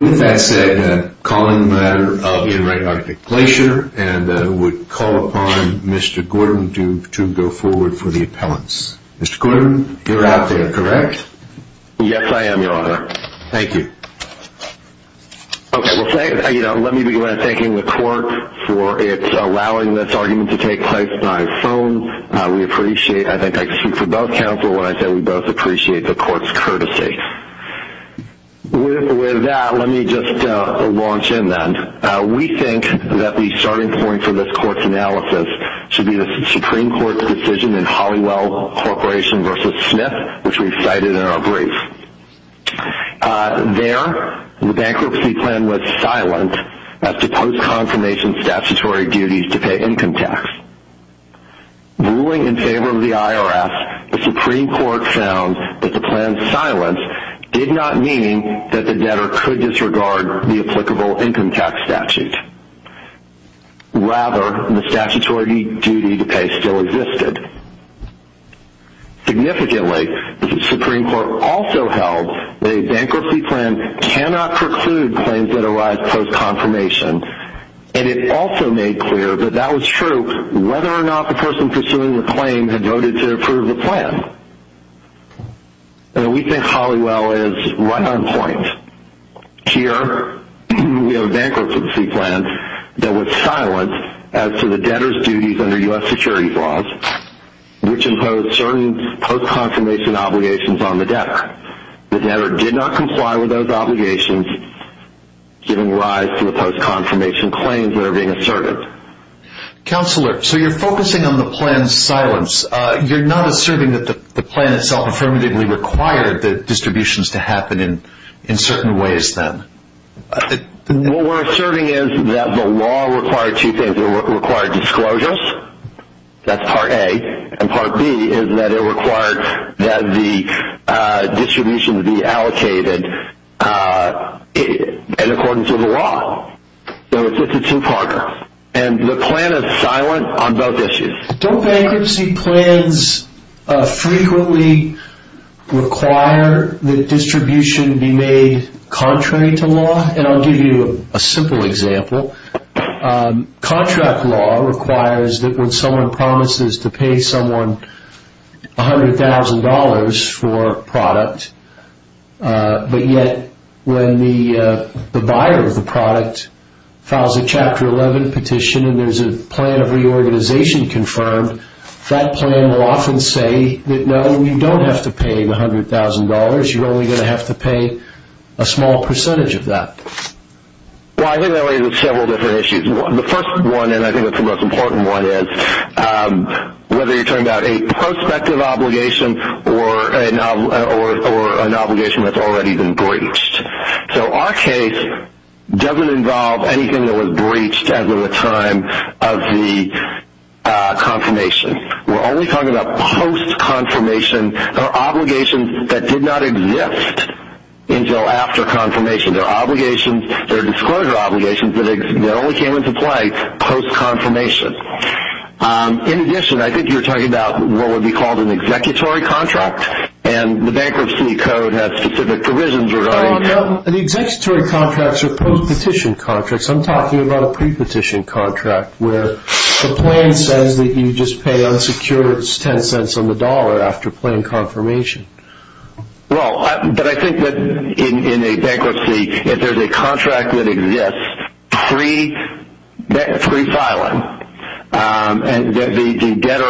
With that said, calling the matter of In Re Arctic Glacier, and I would call upon Mr. Gordon to go forward for the appellants. Mr. Gordon, you're out there, correct? Yes, I am, Your Honor. Thank you. Okay, let me begin by thanking the court for allowing this argument to take place on my phone. I think I can speak for both counsel when I say we both appreciate the court's courtesy. With that, let me just launch in then. We think that the starting point for this court's analysis should be the Supreme Court's decision in Holliwell Corporation v. Smith, which we cited in our brief. There, the bankruptcy plan was silent as to post-confirmation statutory duties to pay income tax. Ruling in favor of the IRS, the Supreme Court found that the plan's silence did not mean that the debtor could disregard the applicable income tax statute. Rather, the statutory duty to pay still existed. Significantly, the Supreme Court also held that a bankruptcy plan cannot preclude claims that arise post-confirmation, and it also made clear that that was true whether or not the person pursuing the claim had voted to approve the plan. We think Holliwell is right on point. Here, we have a bankruptcy plan that was silent as to the debtor's duties under U.S. security laws, which impose certain post-confirmation obligations on the debtor. The debtor did not comply with those obligations, giving rise to the post-confirmation claims that are being asserted. Counselor, so you're focusing on the plan's silence. You're not asserting that the plan itself affirmatively required the distributions to happen in certain ways then? What we're asserting is that the law required two things. That's part A. And part B is that it required that the distribution be allocated in accordance with the law. So it's just a two-parter. And the plan is silent on both issues. Don't bankruptcy plans frequently require the distribution to be made contrary to law? I'll give you a simple example. Contract law requires that when someone promises to pay someone $100,000 for a product, but yet when the buyer of the product files a Chapter 11 petition and there's a plan of reorganization confirmed, that plan will often say that, no, you don't have to pay the $100,000. You're only going to have to pay a small percentage of that. Well, I think that raises several different issues. The first one, and I think it's the most important one, is whether you're talking about a prospective obligation or an obligation that's already been breached. So our case doesn't involve anything that was breached as of the time of the confirmation. We're only talking about post-confirmation or obligations that did not exist until after confirmation. There are obligations, there are disclosure obligations that only came into play post-confirmation. In addition, I think you're talking about what would be called an executory contract, and the Bankruptcy Code has specific provisions regarding that. The executory contracts are post-petition contracts. I'm talking about a pre-petition contract, where the plan says that you just pay unsecured $0.10 on the dollar after plan confirmation. Well, but I think that in a bankruptcy, if there's a contract that exists pre-filing, and there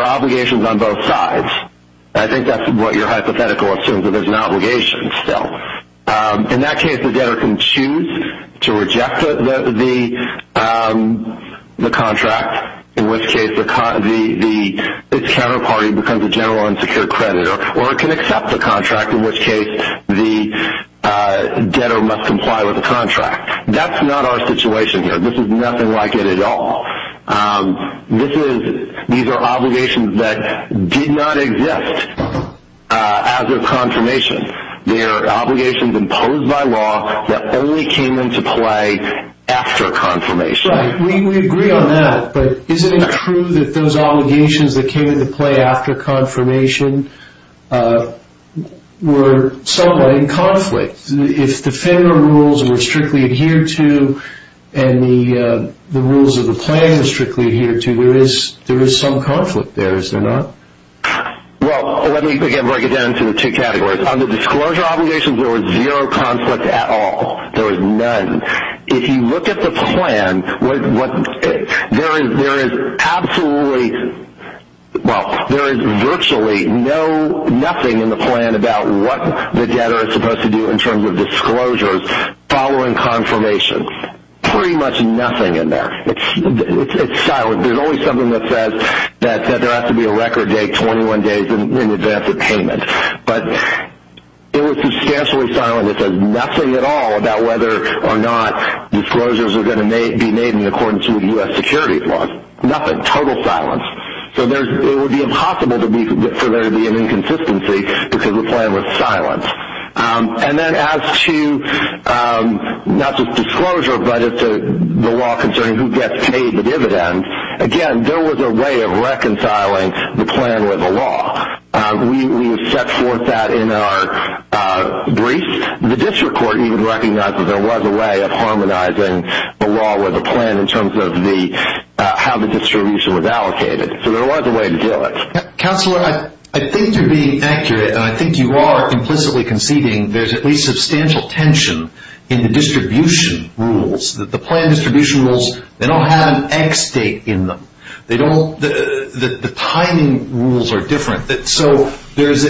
are obligations on both sides, I think that's what your hypothetical assumes that there's an obligation still. In that case, the debtor can choose to reject the contract, in which case its counterparty becomes a general unsecured creditor, or it can accept the contract, in which case the debtor must comply with the contract. That's not our situation here. This is nothing like it at all. These are obligations that did not exist after confirmation. They are obligations imposed by law that only came into play after confirmation. Right. We agree on that. But isn't it true that those obligations that came into play after confirmation were somewhat in conflict? If the federal rules were strictly adhered to, and the rules of the plan were strictly adhered to, there is some conflict there, is there not? Well, let me break it down into two categories. Under disclosure obligations, there was zero conflict at all. There was none. If you look at the plan, there is virtually nothing in the plan about what the debtor is supposed to do in terms of disclosures following confirmation. Pretty much nothing in there. It's silent. There's only something that says that there has to be a record date 21 days in advance of payment. But it was substantially silent. And it says nothing at all about whether or not disclosures are going to be made in accordance with U.S. security laws. Nothing. Total silence. So it would be impossible for there to be an inconsistency because the plan was silent. And then as to not just disclosure, but as to the law concerning who gets paid the dividend, again, there was a way of reconciling the plan with the law. We have set forth that in our brief. The district court even recognized that there was a way of harmonizing the law with the plan in terms of how the distribution was allocated. So there was a way to do it. Counselor, I think you're being accurate, and I think you are implicitly conceding there's at least substantial tension in the distribution rules, that the plan distribution rules, they don't have an X date in them. The timing rules are different. So there's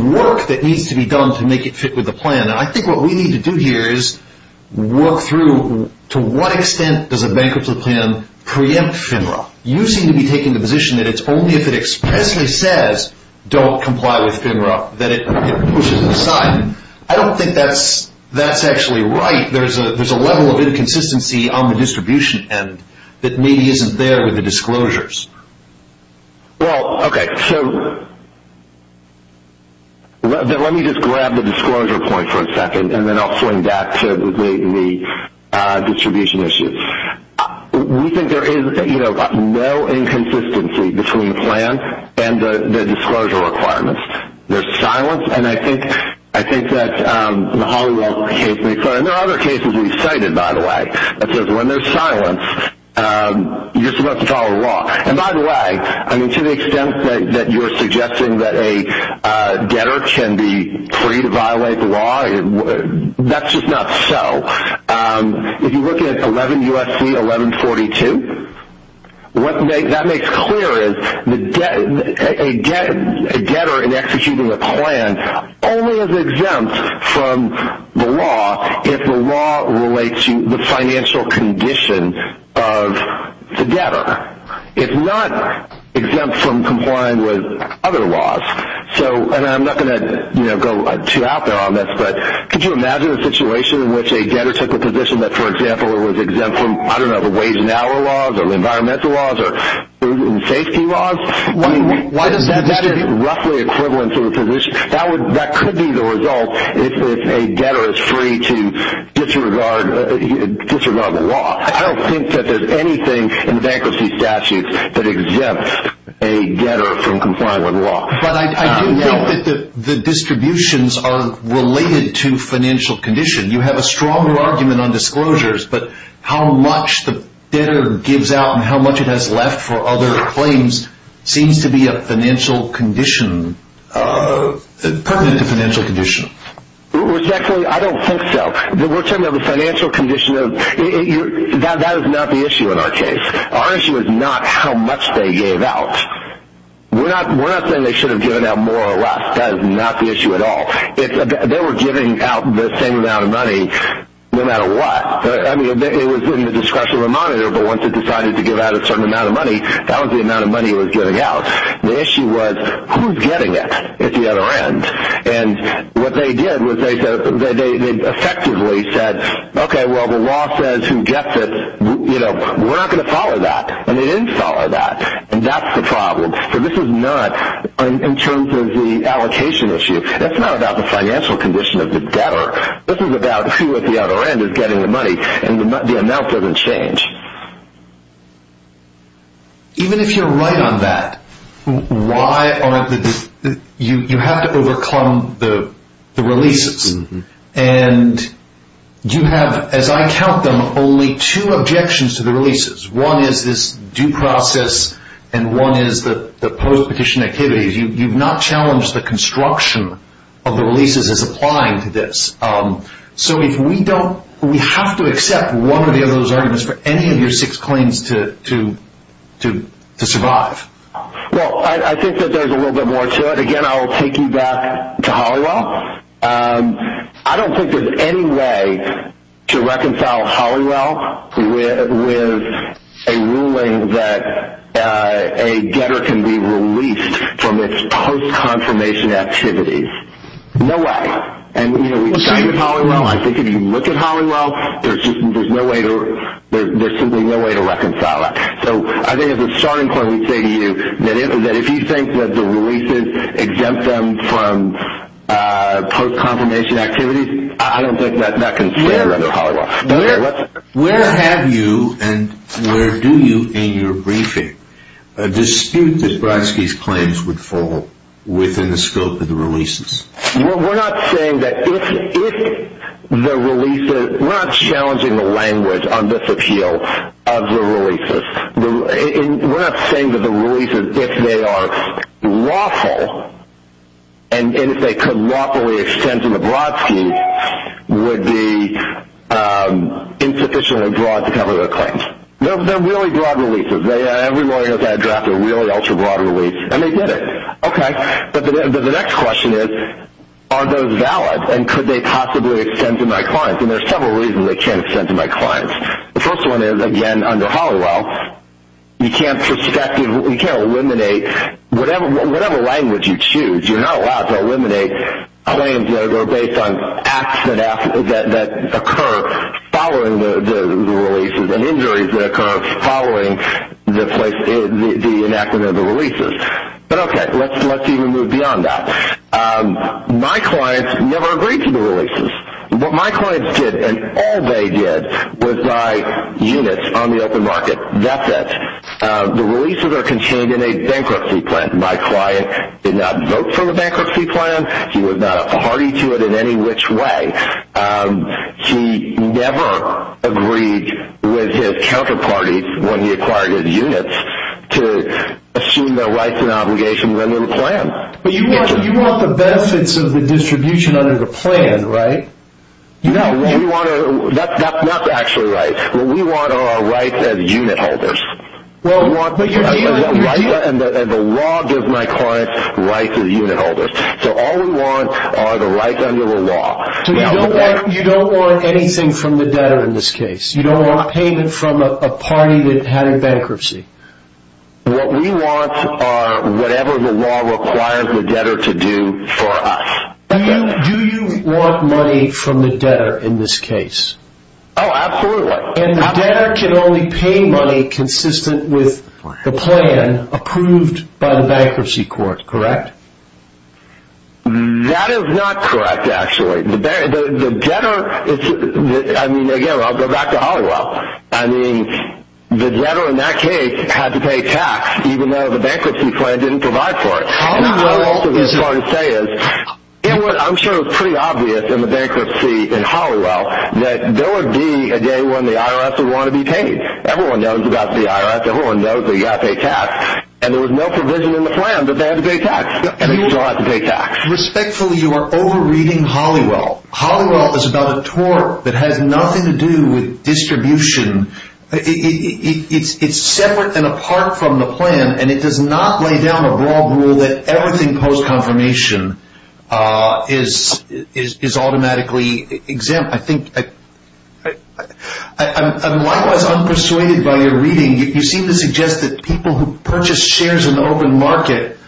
work that needs to be done to make it fit with the plan. And I think what we need to do here is work through to what extent does a bankruptcy plan preempt FINRA. You seem to be taking the position that it's only if it expressly says don't comply with FINRA that it pushes it aside. I don't think that's actually right. I think there's a level of inconsistency on the distribution end that maybe isn't there with the disclosures. Well, okay. So let me just grab the disclosure point for a second, and then I'll swing back to the distribution issues. We think there is no inconsistency between the plan and the disclosure requirements. There's silence. And I think that the Hollywood case makes that. And there are other cases we've cited, by the way, that says when there's silence, you're supposed to follow the law. And by the way, I mean, to the extent that you're suggesting that a debtor can be free to violate the law, that's just not so. If you look at 11 U.S.C. 1142, what that makes clear is a debtor in executing a plan only is exempt from the law if the law relates to the financial condition of the debtor. It's not exempt from complying with other laws. And I'm not going to go too out there on this, but could you imagine a situation in which a debtor took a position that, for example, it was exempt from, I don't know, the wage and hour laws or environmental laws or food and safety laws? That is roughly equivalent to the position. That could be the result if a debtor is free to disregard the law. I don't think that there's anything in the bankruptcy statutes that exempts a debtor from complying with the law. But I do think that the distributions are related to financial condition. You have a stronger argument on disclosures, but how much the debtor gives out and how much it has left for other claims seems to be a financial condition, pertinent to financial condition. I don't think so. We're talking about the financial condition. That is not the issue in our case. Our issue is not how much they gave out. We're not saying they should have given out more or less. That is not the issue at all. They were giving out the same amount of money no matter what. I mean, it was in the discretion of a monitor, but once it decided to give out a certain amount of money, that was the amount of money it was giving out. The issue was who's getting it at the other end. And what they did was they effectively said, okay, well, the law says who gets it. We're not going to follow that. And they didn't follow that. And that's the problem. So this is not in terms of the allocation issue. That's not about the financial condition of the debtor. This is about who at the other end is getting the money. And the amount doesn't change. Even if you're right on that, you have to overcome the releases. And you have, as I count them, only two objections to the releases. One is this due process, and one is the post-petition activities. You've not challenged the construction of the releases as applying to this. So we have to accept one or the other of those arguments for any of your six claims to survive. Well, I think that there's a little bit more to it. I don't think there's any way to reconcile Hollingwell with a ruling that a debtor can be released from its post-confirmation activities. No way. And, you know, we've cited Hollingwell. I think if you look at Hollingwell, there's simply no way to reconcile it. So I think as a starting point, we say to you that if you think that the releases exempt them from post-confirmation activities, I don't think that's not considered under Hollingwell. Where have you and where do you in your briefing dispute that Brodsky's claims would fall within the scope of the releases? Well, we're not saying that if the releases, we're not challenging the language on this appeal of the releases. We're not saying that the releases, if they are lawful, and if they could lawfully exempt them, Brodsky would be insufficient or broad to cover their claims. They're really broad releases. Every lawyer knows how to draft a really ultra-broad release, and they did it. Okay. But the next question is, are those valid, and could they possibly extend to my clients? And there's several reasons they can't extend to my clients. The first one is, again, under Hollingwell, you can't eliminate whatever language you choose. You're not allowed to eliminate claims that are based on acts that occur following the releases and injuries that occur following the enactment of the releases. But, okay, let's even move beyond that. My clients never agreed to the releases. What my clients did, and all they did, was buy units on the open market. That's it. The releases are contained in a bankruptcy plan. My client did not vote for the bankruptcy plan. He was not a party to it in any which way. He never agreed with his counterparty, when he acquired his units, to assume their rights and obligations under the plan. But you want the benefits of the distribution under the plan, right? No. That's not actually right. What we want are our rights as unit holders. The law gives my clients rights as unit holders. So all we want are the rights under the law. So you don't want anything from the debtor in this case? You don't want payment from a party that had a bankruptcy? What we want are whatever the law requires the debtor to do for us. Do you want money from the debtor in this case? Oh, absolutely. And the debtor can only pay money consistent with the plan approved by the bankruptcy court, correct? That is not correct, actually. The debtor – I mean, again, I'll go back to Holliwell. I mean, the debtor in that case had to pay tax, even though the bankruptcy plan didn't provide for it. I'm sure it was pretty obvious in the bankruptcy in Holliwell that there would be a day when the IRS would want to be paid. Everyone knows about the IRS. Everyone knows they've got to pay tax. And there was no provision in the plan that they had to pay tax. And they still have to pay tax. Respectfully, you are over-reading Holliwell. Holliwell is about a tort that has nothing to do with distribution. It's separate and apart from the plan, and it does not lay down a broad rule that everything post-confirmation is automatically exempt. I'm likewise unpersuaded by your reading. You seem to suggest that people who purchase shares in the open market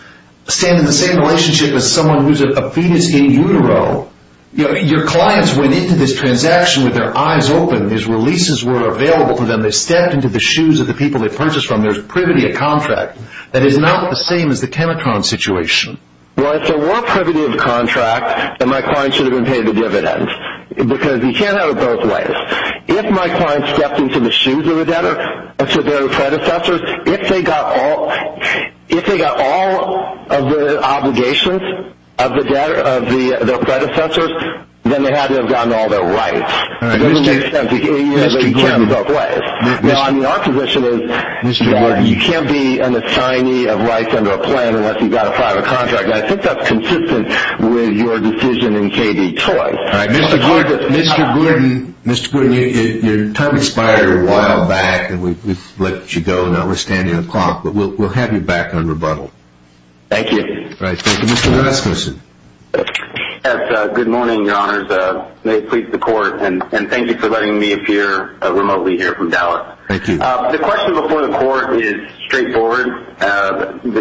stand in the same relationship as someone who's a fetus in utero. Your clients went into this transaction with their eyes open. These releases were available to them. They stepped into the shoes of the people they purchased from. There's privity of contract. That is not the same as the Tenetron situation. Well, if there were privity of contract, then my client should have been paid a dividend. Because you can't have it both ways. If my client stepped into the shoes of their predecessors, if they got all of the obligations of their predecessors, then they had to have gotten all their rights. Mr. Gordon, you can't be an assignee of rights under a plan unless you've got a private contract. I think that's consistent with your decision in KD Toys. Mr. Gordon, your time expired a while back, and we've let you go. Now we're standing on clock, but we'll have you back on rebuttal. Thank you. Thank you. Mr. Rasmussen. Yes, good morning, Your Honors. May it please the Court, and thank you for letting me appear remotely here from Dallas. Thank you. The question before the Court is straightforward.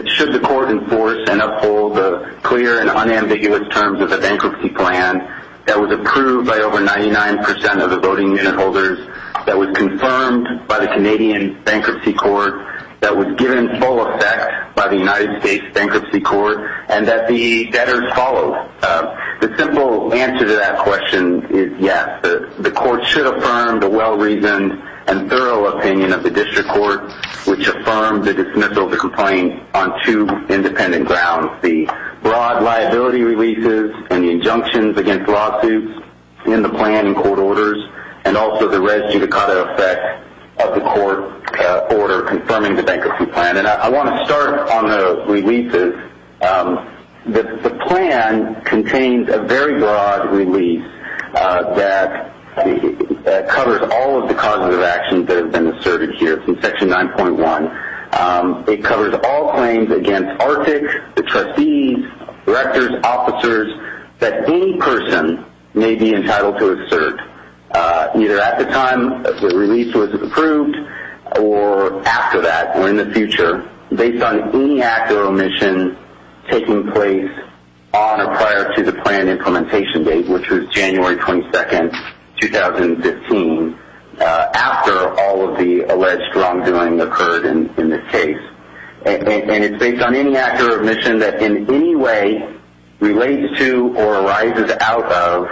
Should the Court enforce and uphold the clear and unambiguous terms of the bankruptcy plan that was approved by over 99% of the voting unit holders, that was confirmed by the Canadian Bankruptcy Court, that was given full effect by the United States Bankruptcy Court, and that the debtors followed? The simple answer to that question is yes. The Court should affirm the well-reasoned and thorough opinion of the District Court, which affirmed the dismissal of the complaint on two independent grounds, the broad liability releases and the injunctions against lawsuits in the plan and court orders, and also the res judicata effect of the court order confirming the bankruptcy plan. I want to start on the releases. The plan contains a very broad release that covers all of the causes of actions that have been asserted here from Section 9.1. It covers all claims against ARTIC, the trustees, directors, officers, that any person may be entitled to assert, either at the time the release was approved or after that or in the future, based on any act or omission taking place on or prior to the plan implementation date, which was January 22, 2015, after all of the alleged wrongdoing occurred in this case. It's based on any act or omission that in any way relates to or arises out of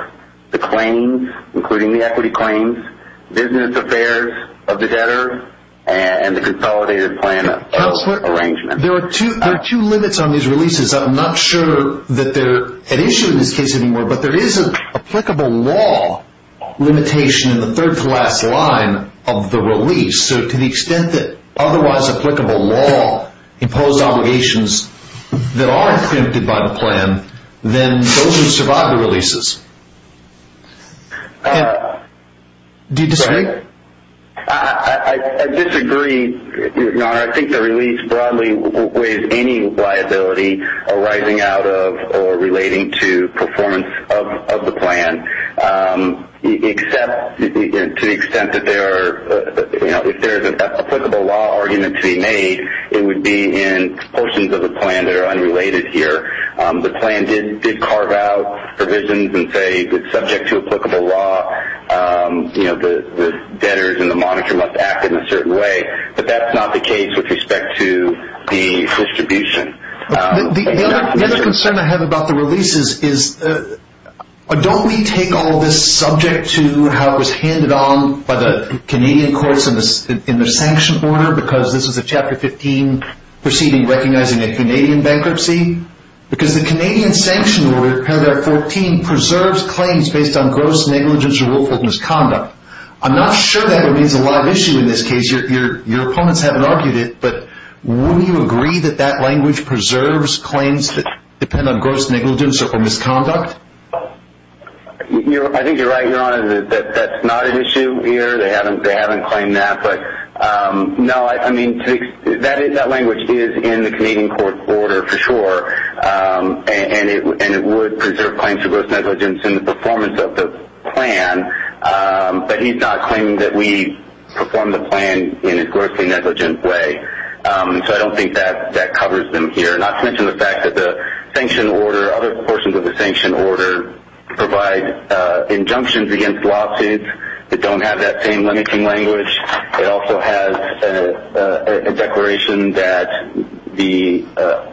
the claims, including the equity claims, business affairs of the debtor, and the consolidated plan arrangement. There are two limits on these releases. I'm not sure that they're at issue in this case anymore, but there is an applicable law limitation in the third-to-last line of the release. So to the extent that otherwise applicable law imposed obligations that are exempted by the plan, then those would survive the releases. Do you disagree? I disagree, Your Honor. I think the release broadly weighs any liability arising out of or relating to performance of the plan, except to the extent that if there is an applicable law argument to be made, it would be in portions of the plan that are unrelated here. The plan did carve out provisions and say that subject to applicable law, the debtors and the monitor must act in a certain way, but that's not the case with respect to the distribution. The other concern I have about the releases is, don't we take all of this subject to how it was handed on by the Canadian courts in the sanction order, because this is a Chapter 15 proceeding recognizing a Canadian bankruptcy? Because the Canadian sanction order, paragraph 14, preserves claims based on gross negligence or willful misconduct. I'm not sure that remains a live issue in this case. Your opponents haven't argued it, but will you agree that that language preserves claims that depend on gross negligence or willful misconduct? I think you're right, Your Honor, that that's not an issue here. They haven't claimed that. No, I mean, that language is in the Canadian court order for sure, and it would preserve claims of gross negligence in the performance of the plan, but he's not claiming that we perform the plan in a grossly negligent way, so I don't think that covers them here, not to mention the fact that the sanction order, other portions of the sanction order, provide injunctions against lawsuits that don't have that same limiting language. It also has a declaration that the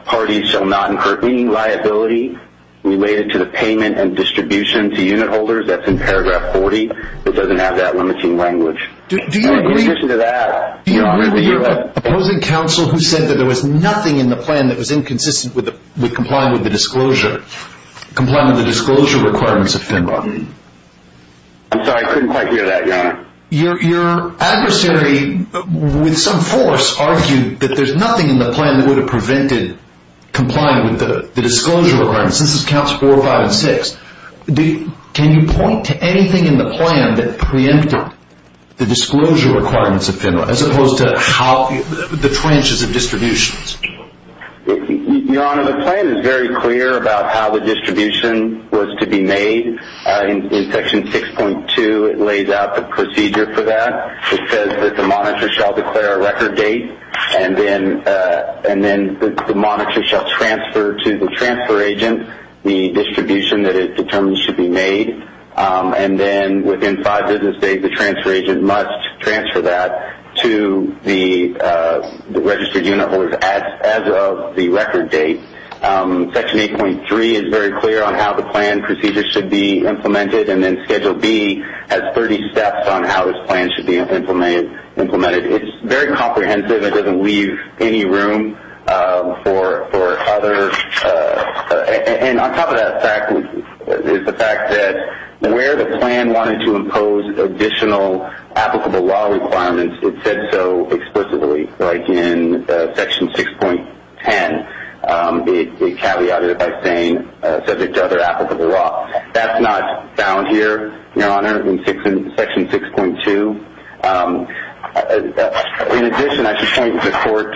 parties shall not incur any liability related to the payment and distribution to unit holders. That's in paragraph 40. It doesn't have that limiting language. Do you agree with opposing counsel who said that there was nothing in the plan that was inconsistent with complying with the disclosure requirements of FINRA? I'm sorry, I couldn't quite hear that, Your Honor. Your adversary, with some force, argued that there's nothing in the plan that would have prevented complying with the disclosure requirements. This is counts four, five, and six. Can you point to anything in the plan that preempted the disclosure requirements of FINRA, as opposed to the trenches of distributions? Your Honor, the plan is very clear about how the distribution was to be made. In section 6.2, it lays out the procedure for that. It says that the monitor shall declare a record date, and then the monitor shall transfer to the transfer agent the distribution that it determines should be made. And then within five business days, the transfer agent must transfer that to the registered unit holders as of the record date. Section 8.3 is very clear on how the plan procedure should be implemented, and then Schedule B has 30 steps on how this plan should be implemented. It's very comprehensive. It doesn't leave any room for other – and on top of that is the fact that where the plan wanted to impose additional applicable law requirements, it said so explicitly, like in section 6.10. It caveated it by saying subject to other applicable law. That's not found here, Your Honor, in section 6.2. In addition, I should point the Court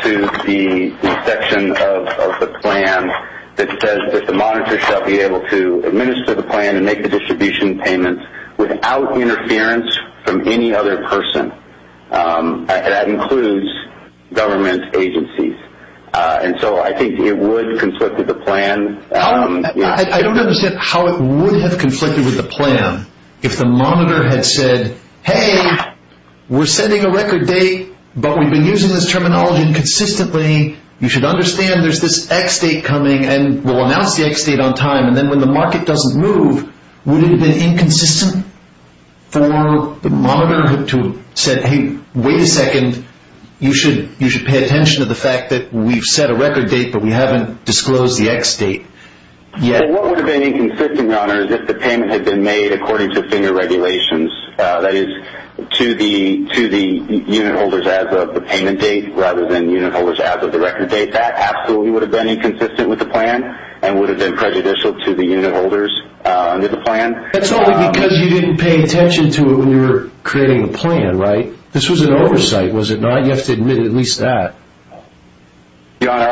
to the section of the plan that says that the monitor shall be able to administer the plan and make the distribution payments without interference from any other person. That includes government agencies. And so I think it would conflict with the plan. I don't understand how it would have conflicted with the plan if the monitor had said, hey, we're sending a record date, but we've been using this terminology inconsistently. You should understand there's this X date coming, and we'll announce the X date on time. And then when the market doesn't move, would it have been inconsistent for the monitor to have said, hey, wait a second, you should pay attention to the fact that we've set a record date, but we haven't disclosed the X date yet? What would have been inconsistent, Your Honor, is if the payment had been made according to FINGER regulations, that is, to the unit holders as of the payment date rather than unit holders as of the record date. That absolutely would have been inconsistent with the plan and would have been prejudicial to the unit holders under the plan. That's only because you didn't pay attention to it when you were creating the plan, right? This was an oversight, was it not? You have to admit at least that. Your Honor,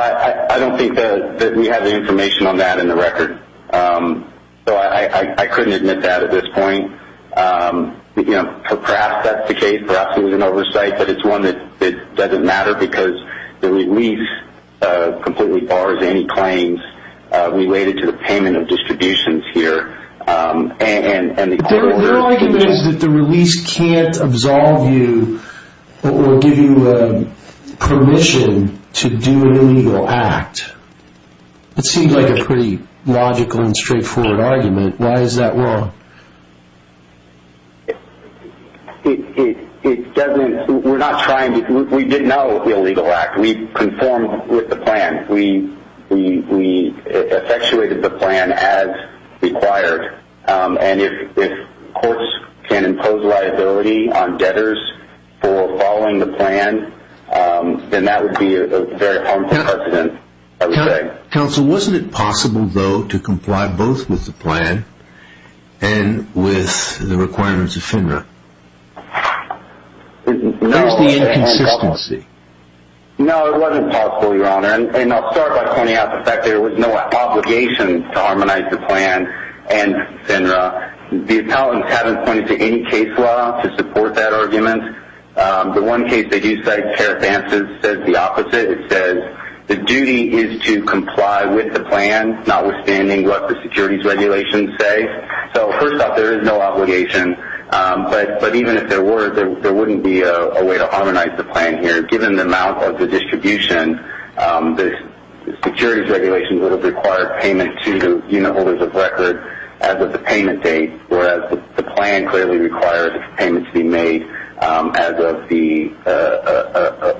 I don't think that we have the information on that in the record, so I couldn't admit that at this point. Perhaps that's the case, perhaps it was an oversight, but it's one that doesn't matter because the release completely bars any claims related to the payment of distributions here. Their argument is that the release can't absolve you or give you permission to do an illegal act. It seems like a pretty logical and straightforward argument. Why is that wrong? We didn't know it was an illegal act. We conformed with the plan. We effectuated the plan as required, and if courts can impose liability on debtors for following the plan, then that would be a very harmful precedent, I would say. Counsel, wasn't it possible, though, to comply both with the plan and with the requirements of FINRA? Where's the inconsistency? No, it wasn't possible, Your Honor, and I'll start by pointing out the fact that there was no obligation to harmonize the plan and FINRA. The appellants haven't pointed to any case law to support that argument. The one case that you cite, CARE Advances, says the opposite. It says the duty is to comply with the plan, notwithstanding what the securities regulations say. So, first off, there is no obligation, but even if there were, there wouldn't be a way to harmonize the plan here, given the amount of the distribution. The securities regulations would have required payment to unit holders of record as of the payment date, whereas the plan clearly requires payment to be made as of the fee. The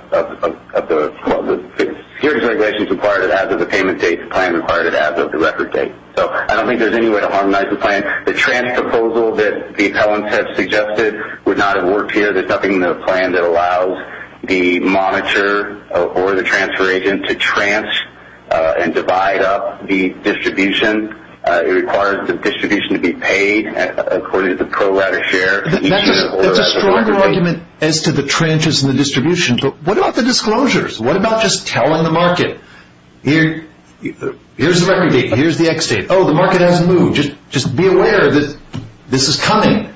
securities regulations required it as of the payment date. The plan required it as of the record date. So, I don't think there's any way to harmonize the plan. The transfer proposal that the appellants had suggested would not have worked here. There's nothing in the plan that allows the monitor or the transfer agent to transfer and divide up the distribution. It requires the distribution to be paid according to the pro rata share. That's a stronger argument as to the transfers and the distributions, but what about the disclosures? What about just telling the market, here's the record date, here's the X date? Oh, the market hasn't moved. Just be aware that this is coming.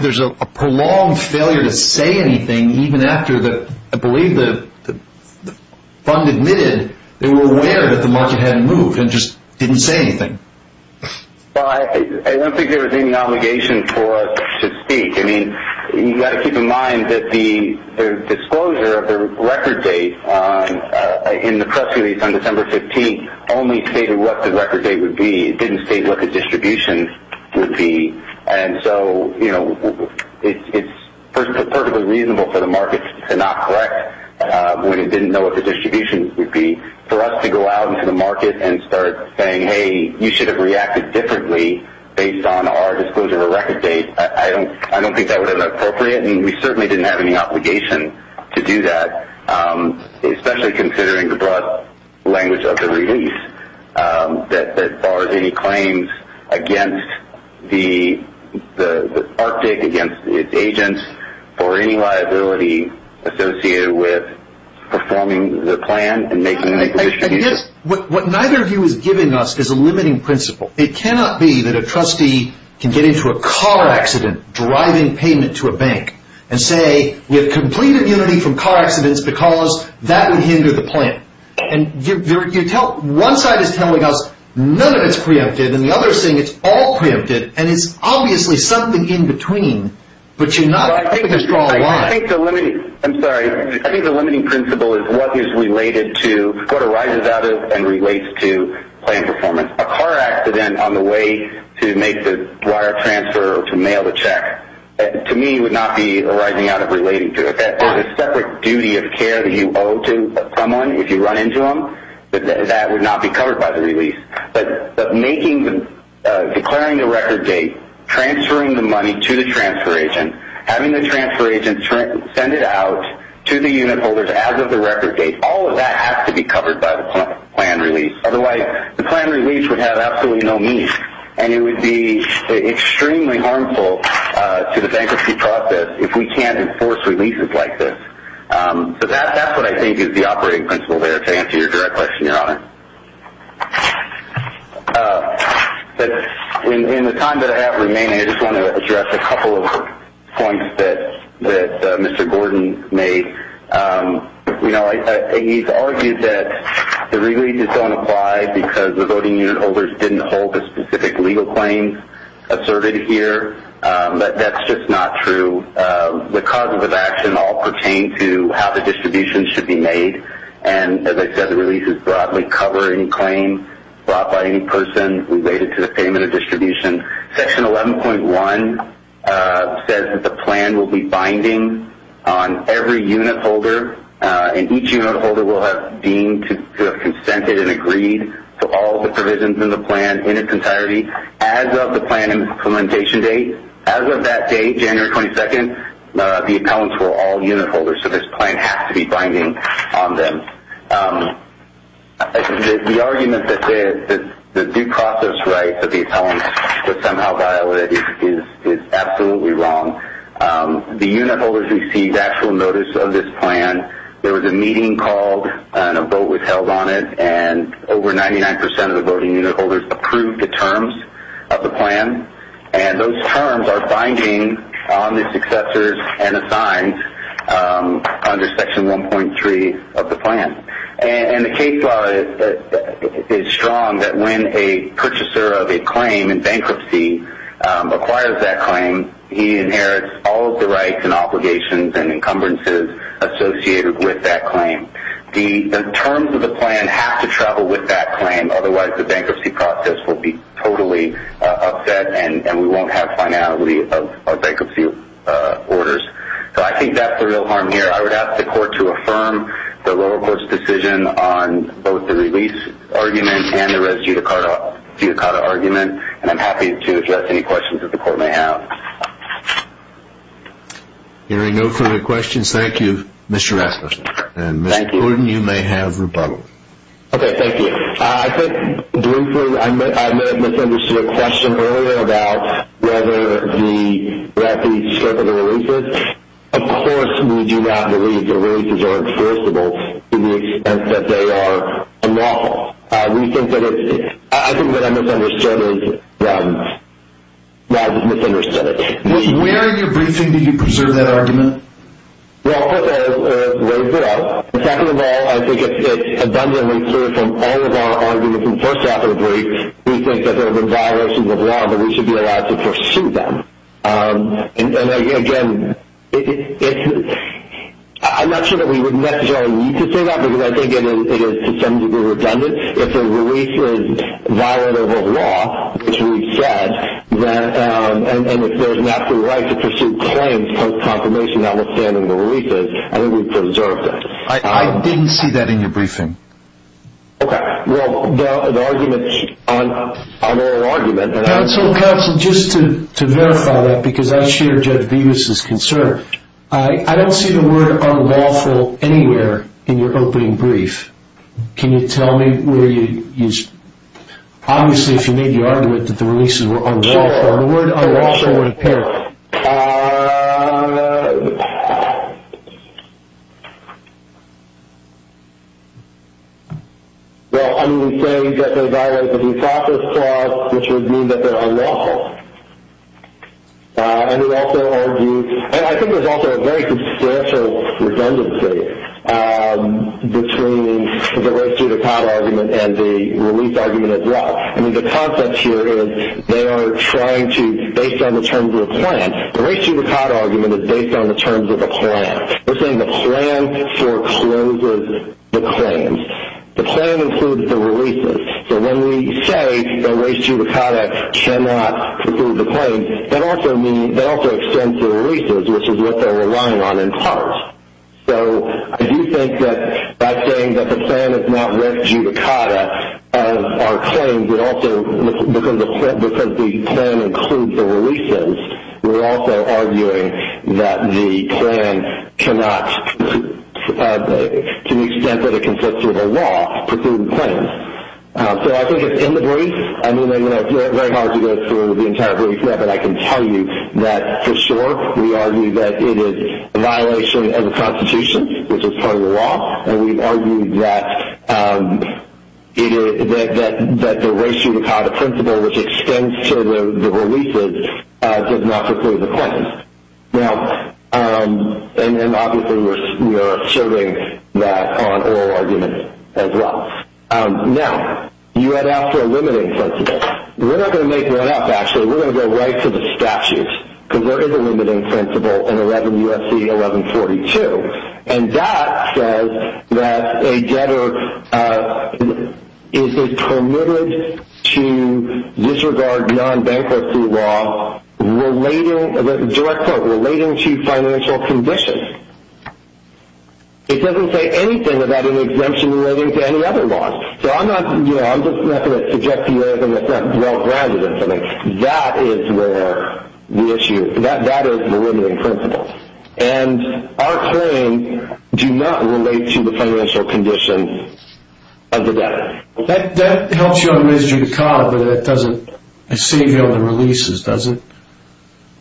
There's a prolonged failure to say anything, even after, I believe, the fund admitted they were aware that the market hadn't moved and just didn't say anything. Well, I don't think there was any obligation for us to speak. I mean, you've got to keep in mind that the disclosure of the record date in the press release on December 15th only stated what the record date would be. It didn't state what the distribution would be, and so it's perfectly reasonable for the market to not correct when it didn't know what the distribution would be. For us to go out into the market and start saying, hey, you should have reacted differently based on our disclosure of the record date, I don't think that would have been appropriate, and we certainly didn't have any obligation to do that, especially considering the broad language of the release that bars any claims against the Arctic, against its agents, or any liability associated with performing the plan and making the distribution. I guess what neither of you is giving us is a limiting principle. It cannot be that a trustee can get into a car accident driving payment to a bank and say we have complete immunity from car accidents because that would hinder the plan. One side is telling us none of it's preempted, and the other is saying it's all preempted, and it's obviously something in between, but you're not making a strong line. I think the limiting principle is what arises out of and relates to plan performance. A car accident on the way to make the wire transfer or to mail the check, to me, would not be arising out of relating to it. There's a separate duty of care that you owe to someone if you run into them, but that would not be covered by the release. But declaring the record date, transferring the money to the transfer agent, having the transfer agent send it out to the unit holders as of the record date, all of that has to be covered by the plan release. Otherwise, the plan release would have absolutely no meaning, and it would be extremely harmful to the bankruptcy process if we can't enforce releases like this. So that's what I think is the operating principle there to answer your direct question, Your Honor. In the time that I have remaining, I just want to address a couple of points that Mr. Gordon made. You know, he's argued that the releases don't apply because the voting unit holders didn't hold the specific legal claims asserted here, but that's just not true. The causes of action all pertain to how the distribution should be made, and as I said, the releases broadly cover any claim brought by any person related to the payment of distribution. Section 11.1 says that the plan will be binding on every unit holder, and each unit holder will have deemed to have consented and agreed to all the provisions in the plan in its entirety as of the plan implementation date. As of that date, January 22nd, the appellants were all unit holders, so this plan has to be binding on them. The argument that the due process rights of the appellants were somehow violated is absolutely wrong. The unit holders received actual notice of this plan. There was a meeting called, and a vote was held on it, and over 99 percent of the voting unit holders approved the terms of the plan, and those terms are binding on the successors and assigned under Section 1.3 of the plan. And the case law is strong that when a purchaser of a claim in bankruptcy acquires that claim, he inherits all of the rights and obligations and encumbrances associated with that claim. The terms of the plan have to travel with that claim, otherwise the bankruptcy process will be totally upset and we won't have finality of our bankruptcy orders. So I think that's the real harm here. I would ask the Court to affirm the lower court's decision on both the release argument and the res judicata argument, and I'm happy to address any questions that the Court may have. Hearing no further questions, thank you, Mr. Rasmussen. And, Mr. Gordon, you may have rebuttal. Okay, thank you. I think, briefly, I may have misunderstood a question earlier about whether the bankruptcy strip of the releases. Of course we do not believe the releases are enforceable to the extent that they are unlawful. We think that it's – I think that I misunderstood it. Where in your briefing did you preserve that argument? Well, first of all, it's way below. And, second of all, I think it's abundantly clear from all of our arguments in the first half of the brief, we think that there have been violations of law, but we should be allowed to pursue them. And, again, I'm not sure that we would necessarily need to say that because I think it is to some degree redundant. If a release is violent of a law, which we've said, and if there's an absolute right to pursue claims post-confirmation, notwithstanding the releases, I think we've preserved it. I didn't see that in your briefing. Okay. Well, the argument – on oral argument – Counsel, Counsel, just to verify that, because I share Judge Vivas' concern, I don't see the word unlawful anywhere in your opening brief. Can you tell me where you – obviously, if you made the argument that the releases were unlawful, the word unlawful would appear. Sure. Well, I mean, we say that there are violations of the process clause, which would mean that they're unlawful. And it also argues – and I think there's also a very substantial redundancy between the race judicata argument and the release argument as well. I mean, the concept here is they are trying to – based on the terms of a plan. The race judicata argument is based on the terms of a plan. We're saying the plan forecloses the claims. The plan includes the releases. So when we say the race judicata cannot preclude the claims, that also extends the releases, which is what they're relying on in part. So I do think that by saying that the plan is not race judicata of our claims, it also – because the plan includes the releases, we're also arguing that the plan cannot – to the extent that it consists of a law, preclude the claims. So I think it's in the brief. I mean, it's very hard to go through the entire brief, but I can tell you that, for sure, we argue that it is a violation of the Constitution, which is part of the law. And we argue that the race judicata principle, which extends to the releases, does not preclude the claims. Now, and obviously we're asserting that on oral arguments as well. Now, you had asked for a limiting principle. We're not going to make that up, actually. We're going to go right to the statutes, because there is a limiting principle in 11 U.S.C. 1142. And that says that a debtor is permitted to disregard non-bankruptcy law relating – direct quote – relating to financial conditions. It doesn't say anything about an exemption relating to any other laws. So I'm not – you know, I'm just not going to suggest to you anything that's not well-grounded or something. That is where the issue – that is the limiting principle. And our claims do not relate to the financial conditions of the debtor. That helps you on race judicata, but it doesn't – it saves you on the releases, does it?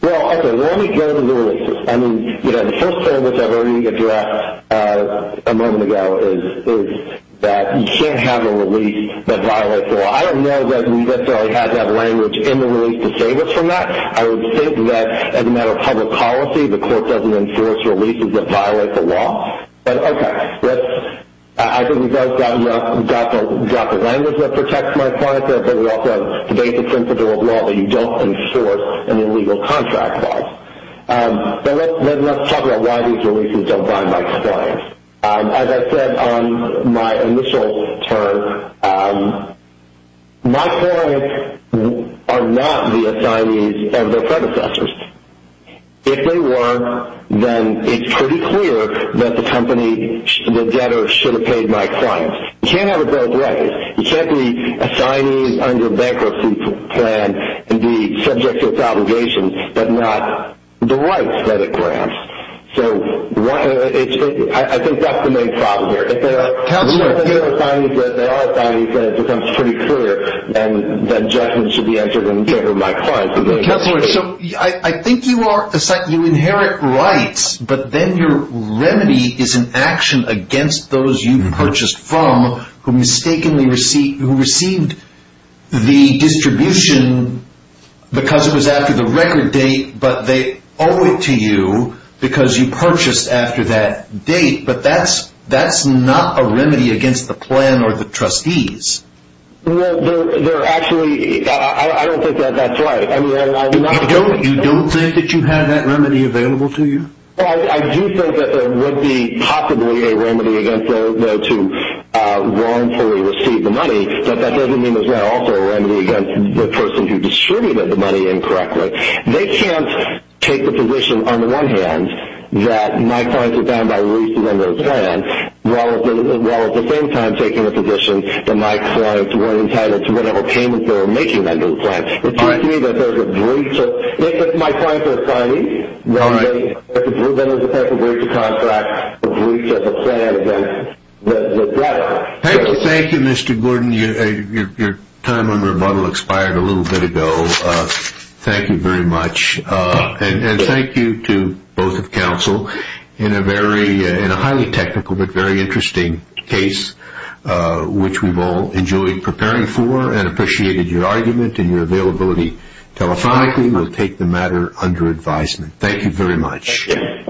Well, okay, let me go to the releases. I mean, you know, the first claim that I've already addressed a moment ago is that you can't have a release that violates the law. I don't know that we necessarily have that language in the release to save us from that. I would think that as a matter of public policy, the court doesn't enforce releases that violate the law. But, okay, let's – I think we've both got the language that protects my clients, but it also debates the principle of law that you don't enforce in illegal contract laws. But let's talk about why these releases don't bind my clients. As I said on my initial term, my clients are not the assignees of their predecessors. If they were, then it's pretty clear that the company – the debtor should have paid my clients. You can't have it both ways. You can't be assignees under a bankruptcy plan and be subject to its obligations but not the rights that it grants. So it's – I think that's the main problem here. If they're assignees, they are assignees, then it becomes pretty clear that judgment should be entered in favor of my clients. Counselor, so I think you are – you inherit rights, but then your remedy is an action against those you purchased from who mistakenly received the distribution because it was after the record date, but they owe it to you because you purchased after that date. But that's not a remedy against the plan or the trustees. Well, they're actually – I don't think that that's right. You don't think that you have that remedy available to you? I do think that there would be possibly a remedy against those who wrongfully received the money, but that doesn't mean there's not also a remedy against the person who distributed the money incorrectly. They can't take the position, on the one hand, that my clients are bound by reason under the plan, while at the same time taking the position that my clients weren't entitled to whatever payments they were making under the plan. It seems to me that there's a breach of – if my clients are assignees, then there's a breach of contract, a breach of the plan against the debtor. Thank you, Mr. Gordon. Your time on rebuttal expired a little bit ago. Thank you very much, and thank you to both of counsel in a highly technical but very interesting case, which we've all enjoyed preparing for and appreciated your argument and your availability telephonically. We'll take the matter under advisement. Thank you.